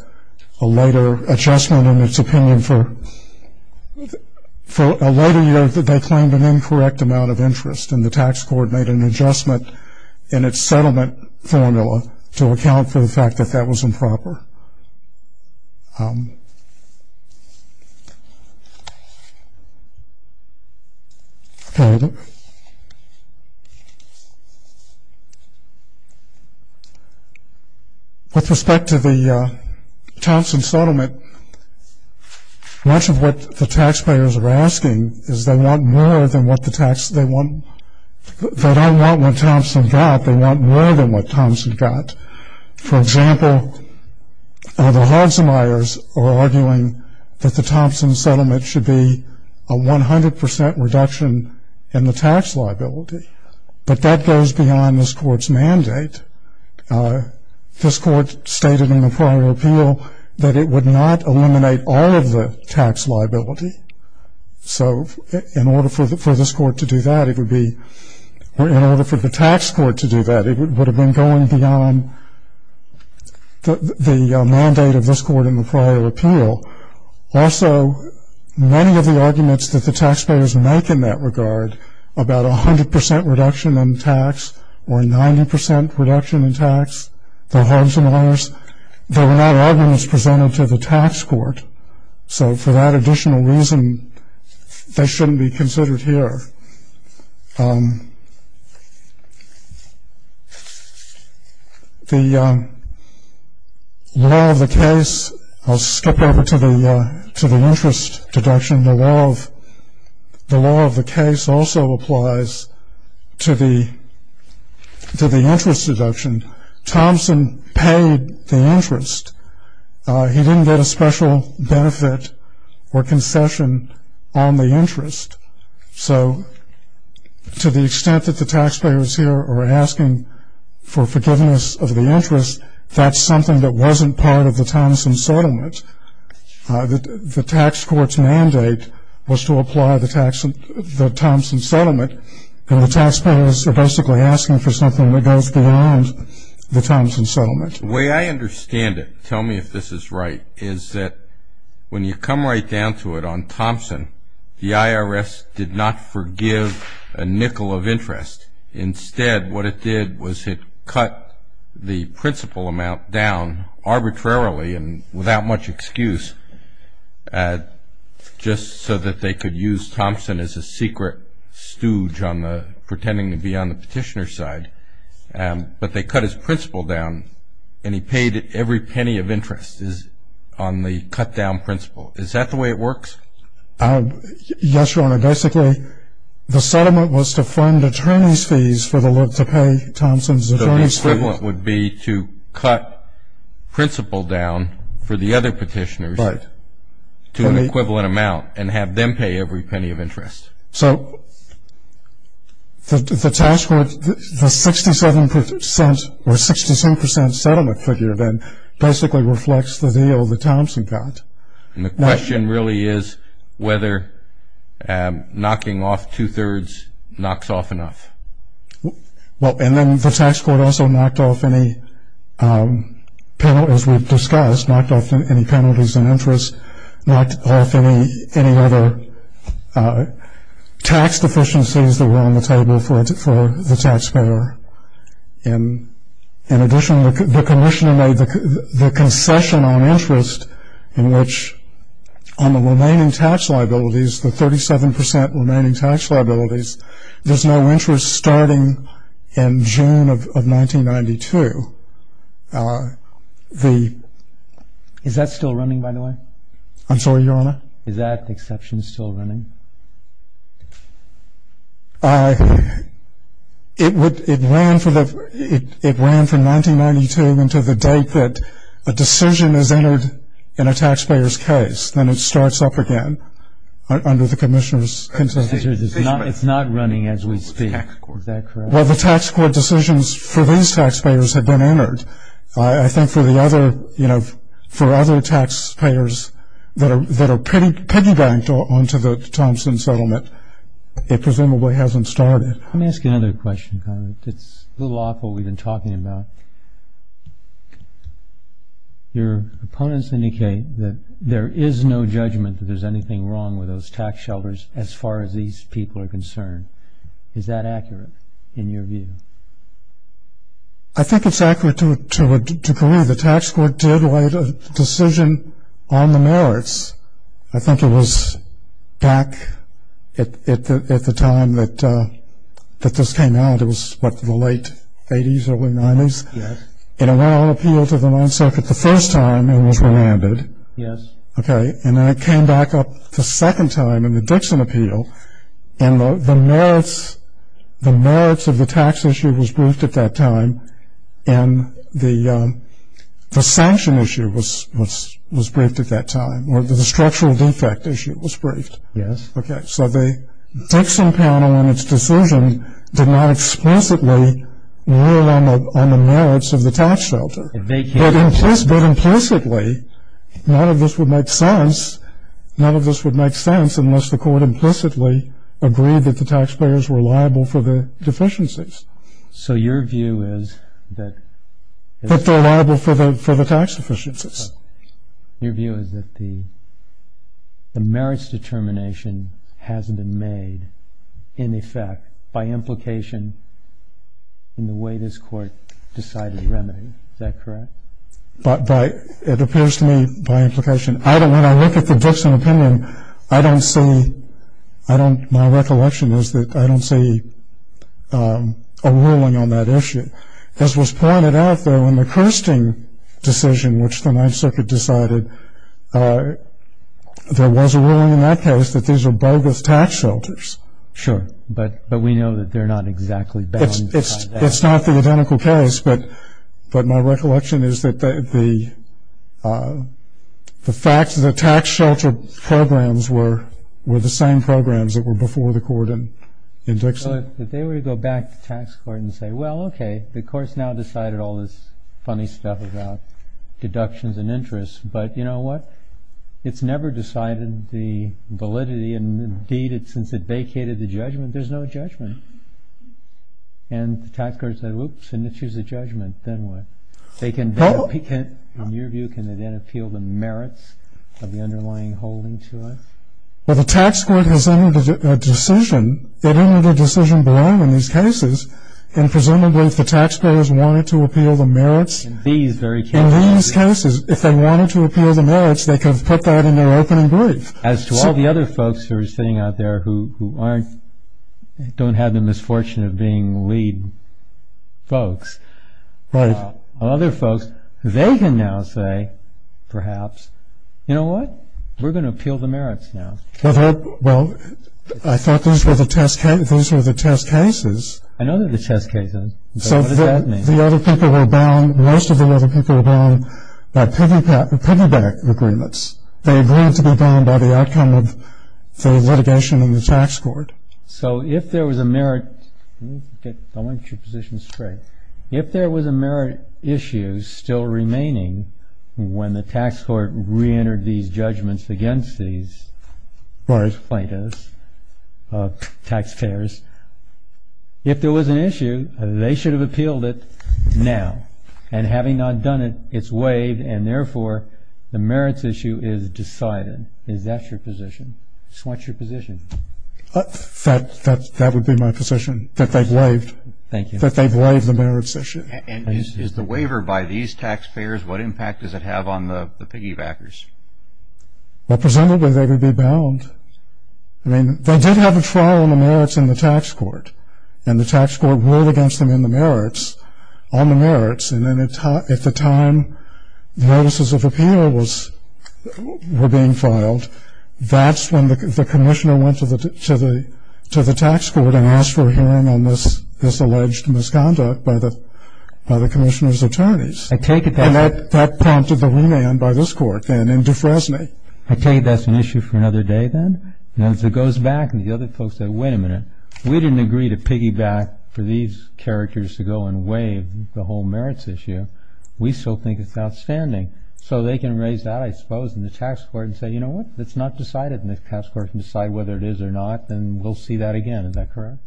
later adjustment in its opinion for – for a later year that they claimed an incorrect amount of interest, and the tax court made an adjustment in its settlement formula to account for the fact that that was improper. Okay. With respect to the Thompson settlement, much of what the taxpayers were asking is they want more than what the tax – they want – they don't want what Thompson got. They want more than what Thompson got. For example, the Hansmeyers are arguing that the Thompson settlement should be a 100 percent reduction in the tax liability, but that goes beyond this court's mandate. This court stated in the prior appeal that it would not eliminate all of the tax liability. So in order for this court to do that, it would be – or in order for the tax court to do that, it would have been going beyond the mandate of this court in the prior appeal. Also, many of the arguments that the taxpayers make in that regard about a 100 percent reduction in tax or a 90 percent reduction in tax, the Hansmeyers, they were not arguments presented to the tax court. So for that additional reason, they shouldn't be considered here. The law of the case – I'll skip over to the interest deduction. The law of the case also applies to the interest deduction. Thompson paid the interest. He didn't get a special benefit or concession on the interest. So to the extent that the taxpayers here are asking for forgiveness of the interest, that's something that wasn't part of the Thompson settlement. The tax court's mandate was to apply the Thompson settlement, and the taxpayers are basically asking for something that goes beyond the Thompson settlement. The way I understand it, tell me if this is right, is that when you come right down to it on Thompson, the IRS did not forgive a nickel of interest. Instead, what it did was it cut the principal amount down arbitrarily and without much excuse, just so that they could use Thompson as a secret stooge on the – pretending to be on the petitioner's side. But they cut his principal down, and he paid every penny of interest on the cut-down principal. Is that the way it works? Yes, Your Honor. Basically, the settlement was to fund attorney's fees for the – to pay Thompson's attorney's fees. So the equivalent would be to cut principal down for the other petitioners to an equivalent amount and have them pay every penny of interest. So the tax court – the 67% or 67% settlement figure then basically reflects the deal that Thompson got. And the question really is whether knocking off two-thirds knocks off enough. Well, and then the tax court also knocked off any – as we've discussed, knocked off any penalties in interest, knocked off any other tax deficiencies that were on the table for the taxpayer. In addition, the commissioner made the concession on interest in which on the remaining tax liabilities, the 37% remaining tax liabilities, there's no interest starting in June of 1992. Is that still running, by the way? I'm sorry, Your Honor? Is that exception still running? It ran from 1992 until the date that a decision is entered in a taxpayer's case. Then it starts up again under the commissioner's concession. It's not running as we speak. Is that correct? Well, the tax court decisions for these taxpayers have been entered. I think for the other – you know, for other taxpayers that are piggy-banked onto the Thompson settlement, it presumably hasn't started. Let me ask you another question. It's a little awful we've been talking about. Your opponents indicate that there is no judgment that there's anything wrong with those tax shelters as far as these people are concerned. Is that accurate in your view? I think it's accurate to believe the tax court did write a decision on the merits. I think it was back at the time that this came out. It was, what, the late 80s or early 90s? Yes. And it went on appeal to the Ninth Circuit the first time it was remanded. Yes. Okay. And then it came back up the second time in the Dixon appeal. And the merits of the tax issue was briefed at that time, and the sanction issue was briefed at that time, or the structural defect issue was briefed. Yes. Okay. So the Dixon panel in its decision did not explicitly rule on the merits of the tax shelter. It vacated it. But implicitly, none of this would make sense unless the court implicitly agreed that the taxpayers were liable for the deficiencies. So your view is that... That they're liable for the tax deficiencies. Your view is that the merits determination hasn't been made, in effect, by implication in the way this court decided to remedy. Is that correct? It appears to me by implication. When I look at the Dixon opinion, my recollection is that I don't see a ruling on that issue. As was pointed out, though, in the Kirsting decision, which the Ninth Circuit decided, there was a ruling in that case that these are bogus tax shelters. Sure. But we know that they're not exactly bound by that. That's not the identical case, but my recollection is that the fact that the tax shelter programs were the same programs that were before the court in Dixon. So if they were to go back to the tax court and say, well, okay, the court's now decided all this funny stuff about deductions and interest, but you know what? It's never decided the validity, and indeed, since it vacated the judgment, there's no judgment. And the tax court said, whoops, and issues a judgment. Then what? In your view, can it then appeal the merits of the underlying holding to us? Well, the tax court has entered a decision. It entered a decision blind in these cases, and presumably if the taxpayers wanted to appeal the merits in these cases, if they wanted to appeal the merits, they could have put that in their opening brief. As to all the other folks who are sitting out there who don't have the misfortune of being lead folks, other folks, they can now say, perhaps, you know what? We're going to appeal the merits now. Well, I thought these were the test cases. I know they're the test cases, but what does that mean? So the other people were bound, most of the other people were bound by piggyback agreements. They agreed to be bound by the outcome of the litigation in the tax court. So if there was a merit issue still remaining when the tax court reentered these judgments against these plaintiffs, taxpayers, if there was an issue, they should have appealed it now. And having not done it, it's waived, and therefore the merits issue is decided. Is that your position? What's your position? That would be my position, that they've waived. Thank you. That they've waived the merits issue. And is the waiver by these taxpayers, what impact does it have on the piggybackers? Well, presumably they would be bound. I mean, they did have a trial on the merits in the tax court, and the tax court ruled against them on the merits. And then at the time notices of appeal were being filed, that's when the commissioner went to the tax court and asked for a hearing on this alleged misconduct by the commissioner's attorneys. And that prompted the remand by this court then in Defresne. I take it that's an issue for another day then? And as it goes back and the other folks say, wait a minute, we didn't agree to piggyback for these characters to go and waive the whole merits issue. We still think it's outstanding. So they can raise that, I suppose, in the tax court and say, you know what, it's not decided in the tax court to decide whether it is or not, and we'll see that again. Is that correct?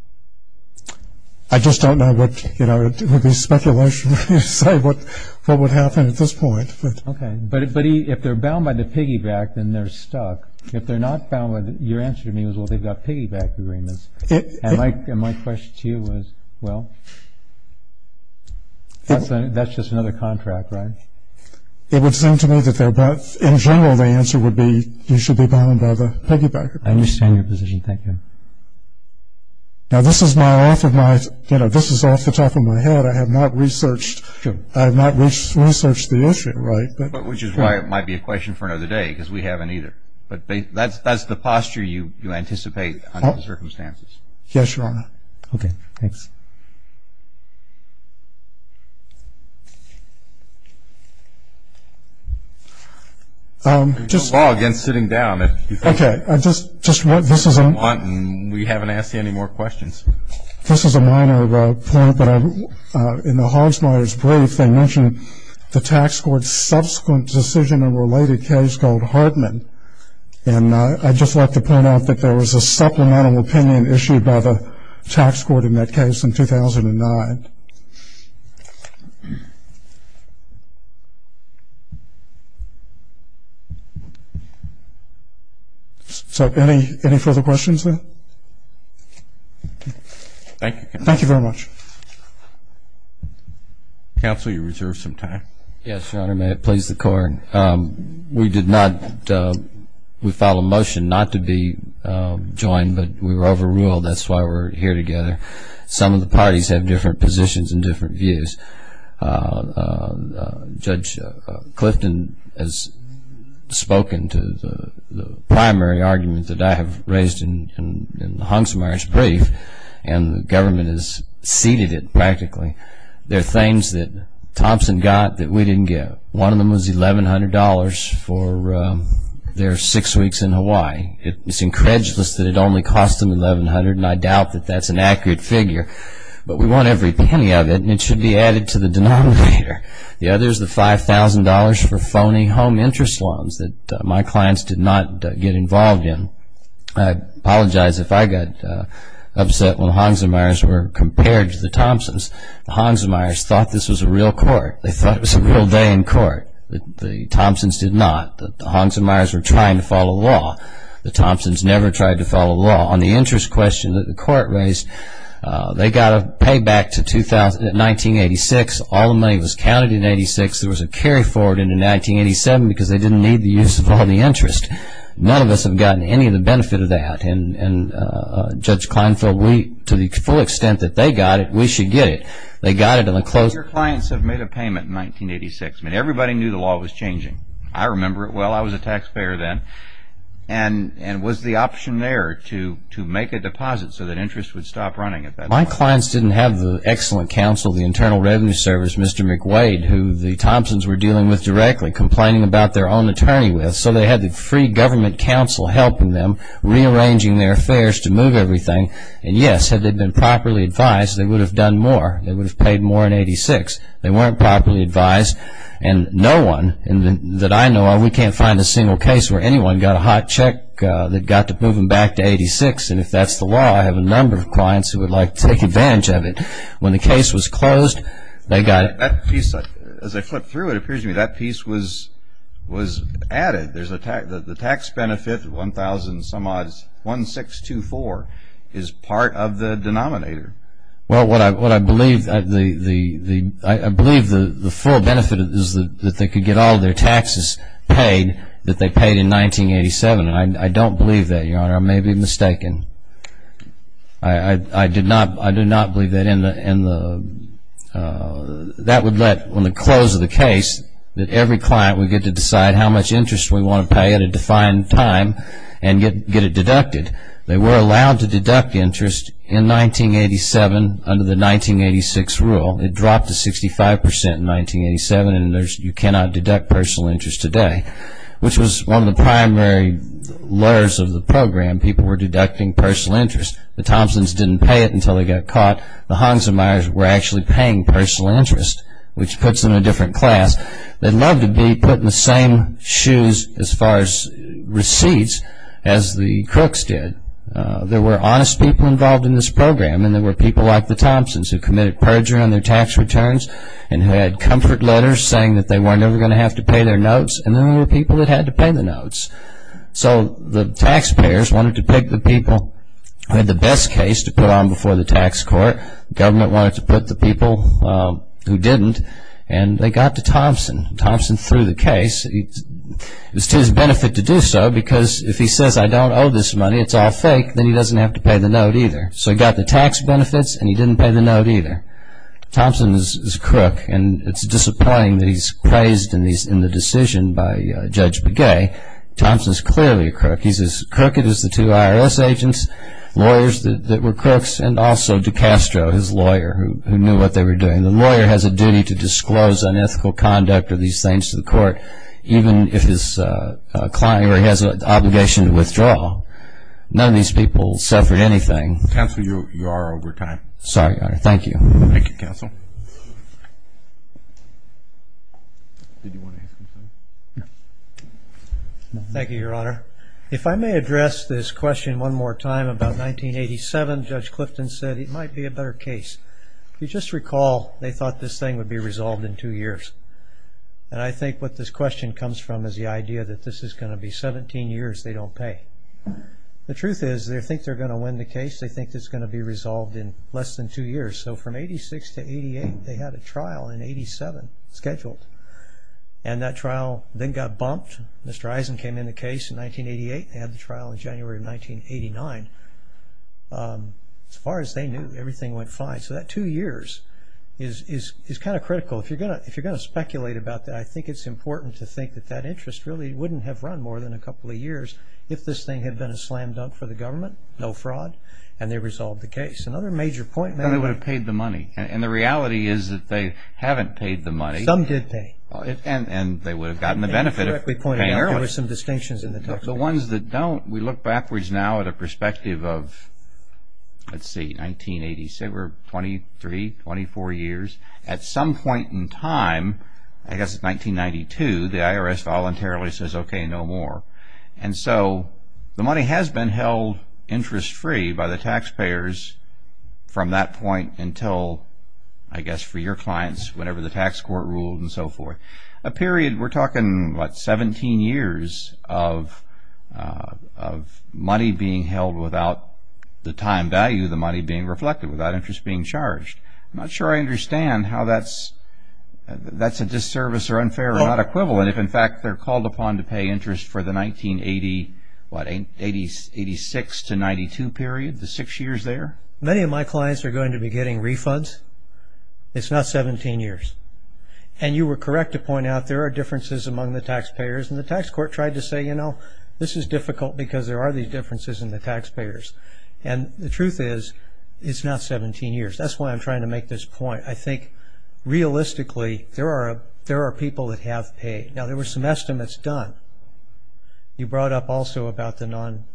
I just don't know. It would be speculation to decide what would happen at this point. Okay. But if they're bound by the piggyback, then they're stuck. If they're not bound, your answer to me was, well, they've got piggyback agreements. And my question to you was, well, that's just another contract, right? It would seem to me that in general the answer would be you should be bound by the piggyback. I understand your position. Thank you. Now, this is off the top of my head. I have not researched the issue, right? Which is why it might be a question for another day because we haven't either. But that's the posture you anticipate under the circumstances. Yes, Your Honor. Okay. Thanks. You can log in sitting down if you think you want, and we haven't asked you any more questions. This is a minor point, but in the Hogsmeyer's brief, they mention the tax court's subsequent decision in a related case called Hartman. And I'd just like to point out that there was a supplemental opinion issued by the tax court in that case in 2009. So any further questions there? Thank you. Thank you very much. Counsel, you reserve some time. Yes, Your Honor. May it please the Court. We followed motion not to be joined, but we were overruled. That's why we're here together. Some of the parties have different positions and different views. Judge Clifton has spoken to the primary argument that I have raised in the Hogsmeyer's brief, and the government has ceded it practically. There are things that Thompson got that we didn't get. One of them was $1,100 for their six weeks in Hawaii. It's incredulous that it only cost them $1,100, and I doubt that that's an accurate figure. But we want every penny of it, and it should be added to the denominator. The other is the $5,000 for phony home interest loans that my clients did not get involved in. I apologize if I got upset when the Hogsmeyer's were compared to the Thompson's. The Hogsmeyer's thought this was a real court. They thought it was a real day in court. The Thompson's did not. The Hogsmeyer's were trying to follow law. The Thompson's never tried to follow law. On the interest question that the Court raised, they got a payback to 1986. All the money was counted in 1986. There was a carry forward into 1987 because they didn't need the use of all the interest. None of us have gotten any of the benefit of that. Judge Kleinfeld, to the full extent that they got it, we should get it. Your clients have made a payment in 1986. Everybody knew the law was changing. I remember it well. I was a taxpayer then. Was the option there to make a deposit so that interest would stop running at that point? My clients didn't have the excellent counsel of the Internal Revenue Service, Mr. McWade, who the Thompson's were dealing with directly, complaining about their own attorney with, so they had the free government counsel helping them, rearranging their affairs to move everything. And, yes, had they been properly advised, they would have done more. They would have paid more in 1986. They weren't properly advised, and no one that I know of, we can't find a single case where anyone got a hot check that got to move them back to 1986. And if that's the law, I have a number of clients who would like to take advantage of it. When the case was closed, they got it. As I flip through it, it appears to me that piece was added. The tax benefit, 1,000-some-odd, 1624, is part of the denominator. Well, what I believe, I believe the full benefit is that they could get all their taxes paid that they paid in 1987. And I don't believe that, Your Honor. I may be mistaken. I do not believe that in the, that would let, on the close of the case, that every client would get to decide how much interest we want to pay at a defined time and get it deducted. They were allowed to deduct interest in 1987 under the 1986 rule. It dropped to 65% in 1987, and you cannot deduct personal interest today, which was one of the primary layers of the program. People were deducting personal interest. The Thompsons didn't pay it until they got caught. The Hansenmeyers were actually paying personal interest, which puts them in a different class. They'd love to be put in the same shoes as far as receipts as the Crooks did. There were honest people involved in this program, and there were people like the Thompsons who committed perjury on their tax returns and who had comfort letters saying that they weren't ever going to have to pay their notes, and then there were people that had to pay their notes. So the taxpayers wanted to pick the people who had the best case to put on before the tax court. The government wanted to put the people who didn't, and they got to Thompson. Thompson threw the case. It was to his benefit to do so because if he says, I don't owe this money, it's all fake, then he doesn't have to pay the note either. So he got the tax benefits, and he didn't pay the note either. Thompson is a crook, and it's disappointing that he's praised in the decision by Judge Begay. Thompson is clearly a crook. He's as crooked as the two IRS agents, lawyers that were crooks, and also DiCastro, his lawyer, who knew what they were doing. The lawyer has a duty to disclose unethical conduct or these things to the court, even if his client or he has an obligation to withdraw. None of these people suffered anything. Counsel, you are over time. Sorry, Your Honor. Thank you. Thank you, Counsel. Thank you, Your Honor. If I may address this question one more time about 1987, Judge Clifton said it might be a better case. If you just recall, they thought this thing would be resolved in two years, and I think what this question comes from is the idea that this is going to be 17 years they don't pay. The truth is they think they're going to win the case. They think it's going to be resolved in less than two years. So from 86 to 88, they had a trial in 87 scheduled, and that trial then got bumped. Mr. Eisen came in the case in 1988. They had the trial in January of 1989. As far as they knew, everything went fine. So that two years is kind of critical. If you're going to speculate about that, I think it's important to think that that interest really wouldn't have run more than a couple of years if this thing had been a slam dunk for the government, no fraud. And they resolved the case. Another major point. They would have paid the money. And the reality is that they haven't paid the money. Some did pay. And they would have gotten the benefit of paying. There were some distinctions. The ones that don't, we look backwards now at a perspective of, let's see, 1987, 23, 24 years. At some point in time, I guess it's 1992, the IRS voluntarily says, okay, no more. And so the money has been held interest-free by the taxpayers from that point until, I guess for your clients, whenever the tax court ruled and so forth. A period, we're talking, what, 17 years of money being held without the time value of the money being reflected, without interest being charged. I'm not sure I understand how that's a disservice or unfair or not equivalent if, in fact, they're called upon to pay interest for the 1980, what, 86 to 92 period, the six years there. Many of my clients are going to be getting refunds. It's not 17 years. And you were correct to point out there are differences among the taxpayers. And the tax court tried to say, you know, this is difficult because there are these differences in the taxpayers. And the truth is, it's not 17 years. That's why I'm trying to make this point. I think, realistically, there are people that have paid. Now, there were some estimates done. You brought up also about the non,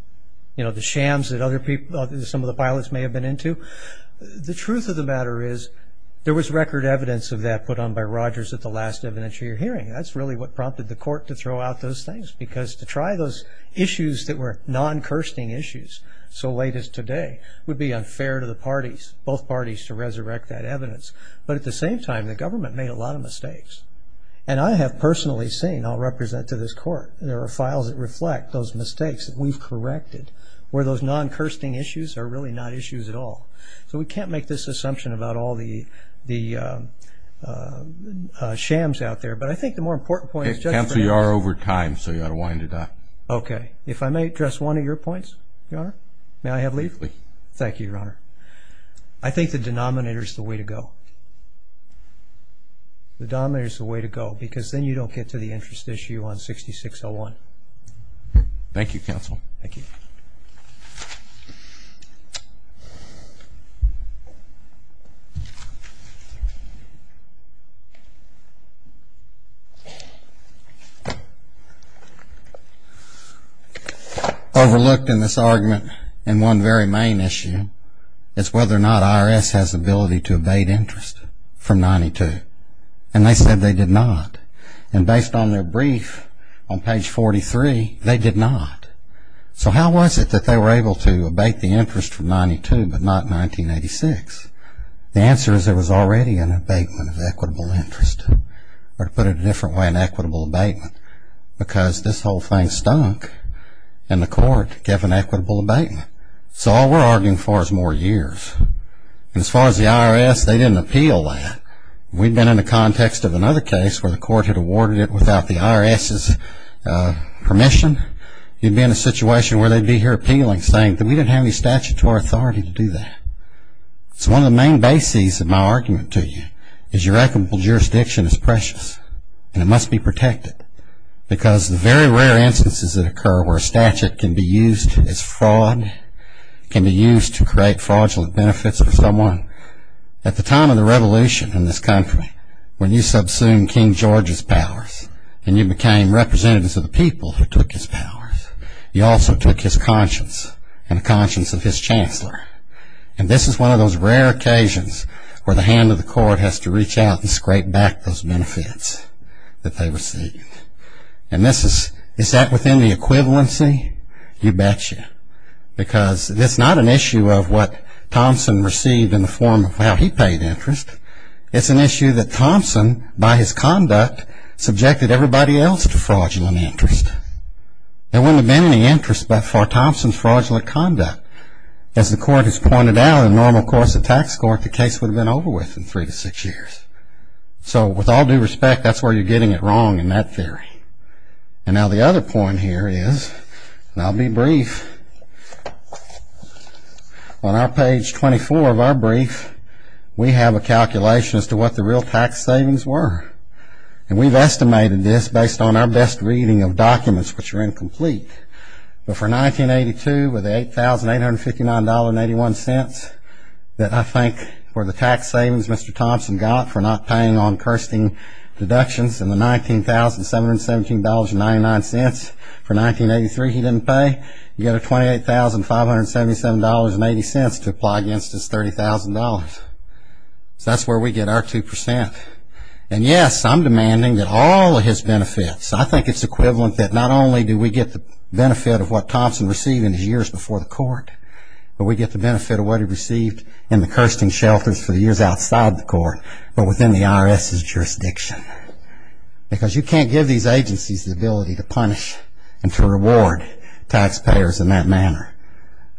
you know, the shams that other people, some of the pilots may have been into. The truth of the matter is, there was record evidence of that put on by Rogers at the last evidentiary hearing. That's really what prompted the court to throw out those things, because to try those issues that were non-cursing issues so late as today would be unfair to the parties, both parties, to resurrect that evidence. But at the same time, the government made a lot of mistakes. And I have personally seen, I'll represent to this court, there are files that reflect those mistakes that we've corrected, where those non-cursing issues are really not issues at all. So we can't make this assumption about all the shams out there. But I think the more important point is just that. Counsel, you are over time, so you ought to wind it up. Okay. If I may address one of your points, Your Honor? May I have leave? Please. Thank you, Your Honor. I think the denominator is the way to go. The denominator is the way to go, because then you don't get to the interest issue on 6601. Thank you, counsel. Thank you. Overlooked in this argument in one very main issue is whether or not IRS has the ability to abate interest from 92. And they said they did not. And based on their brief on page 43, they did not. So how was it that they were able to abate the interest from 92 but not 1986? The answer is there was already an abatement of equitable interest, or to put it a different way, an equitable abatement, because this whole thing stunk and the court gave an equitable abatement. So all we're arguing for is more years. And as far as the IRS, they didn't appeal that. If we'd been in the context of another case where the court had awarded it without the IRS's permission, you'd be in a situation where they'd be here appealing, saying that we didn't have any statutory authority to do that. So one of the main bases of my argument to you is your equitable jurisdiction is precious, and it must be protected, because the very rare instances that occur where a statute can be used as fraud, can be used to create fraudulent benefits for someone. At the time of the revolution in this country, when you subsumed King George's powers and you became representatives of the people who took his powers, you also took his conscience and the conscience of his chancellor. And this is one of those rare occasions where the hand of the court has to reach out and scrape back those benefits that they received. And is that within the equivalency? You betcha. Because it's not an issue of what Thompson received in the form of how he paid interest. It's an issue that Thompson, by his conduct, subjected everybody else to fraudulent interest. There wouldn't have been any interest for Thompson's fraudulent conduct. As the court has pointed out, in the normal course of tax court, the case would have been over within three to six years. So with all due respect, that's where you're getting it wrong in that theory. And now the other point here is, and I'll be brief, on our page 24 of our brief, we have a calculation as to what the real tax savings were. And we've estimated this based on our best reading of documents, which are incomplete. But for 1982, with $8,859.81, that I think were the tax savings Mr. Thompson got for not paying on cursing deductions, and the $19,717.99 for 1983 he didn't pay, you get a $28,577.80 to apply against his $30,000. So that's where we get our 2%. And yes, I'm demanding that all of his benefits, I think it's equivalent that not only do we get the benefit of what Thompson received in his years before the court, but we get the benefit of what he received in the cursing shelters for the years outside the court, but within the IRS's jurisdiction. Because you can't give these agencies the ability to punish and to reward taxpayers in that manner,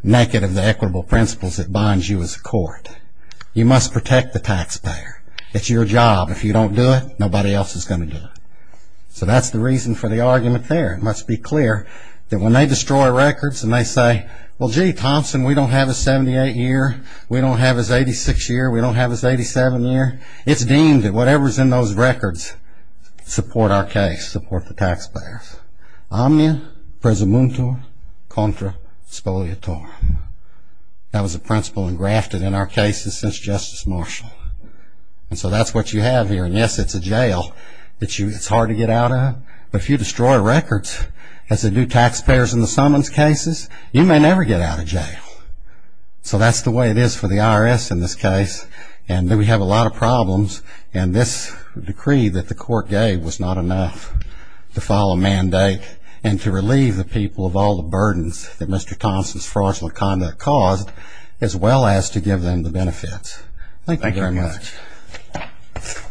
naked of the equitable principles that bind you as a court. You must protect the taxpayer. It's your job. If you don't do it, nobody else is going to do it. So that's the reason for the argument there. It must be clear that when they destroy records and they say, well, gee, Thompson, we don't have his 78 year. We don't have his 86 year. We don't have his 87 year. It's deemed that whatever is in those records support our case, support the taxpayers. Omnia presumuntum contra spoliatorum. That was a principle engrafted in our cases since Justice Marshall. And so that's what you have here. And, yes, it's a jail. It's hard to get out of. But if you destroy records as they do taxpayers in the summons cases, you may never get out of jail. So that's the way it is for the IRS in this case. And we have a lot of problems. And this decree that the court gave was not enough to file a mandate and to relieve the people of all the burdens that Mr. Thompson's fraudulent conduct caused, as well as to give them the benefits. Thank you very much. Thank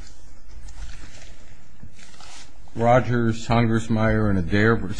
you.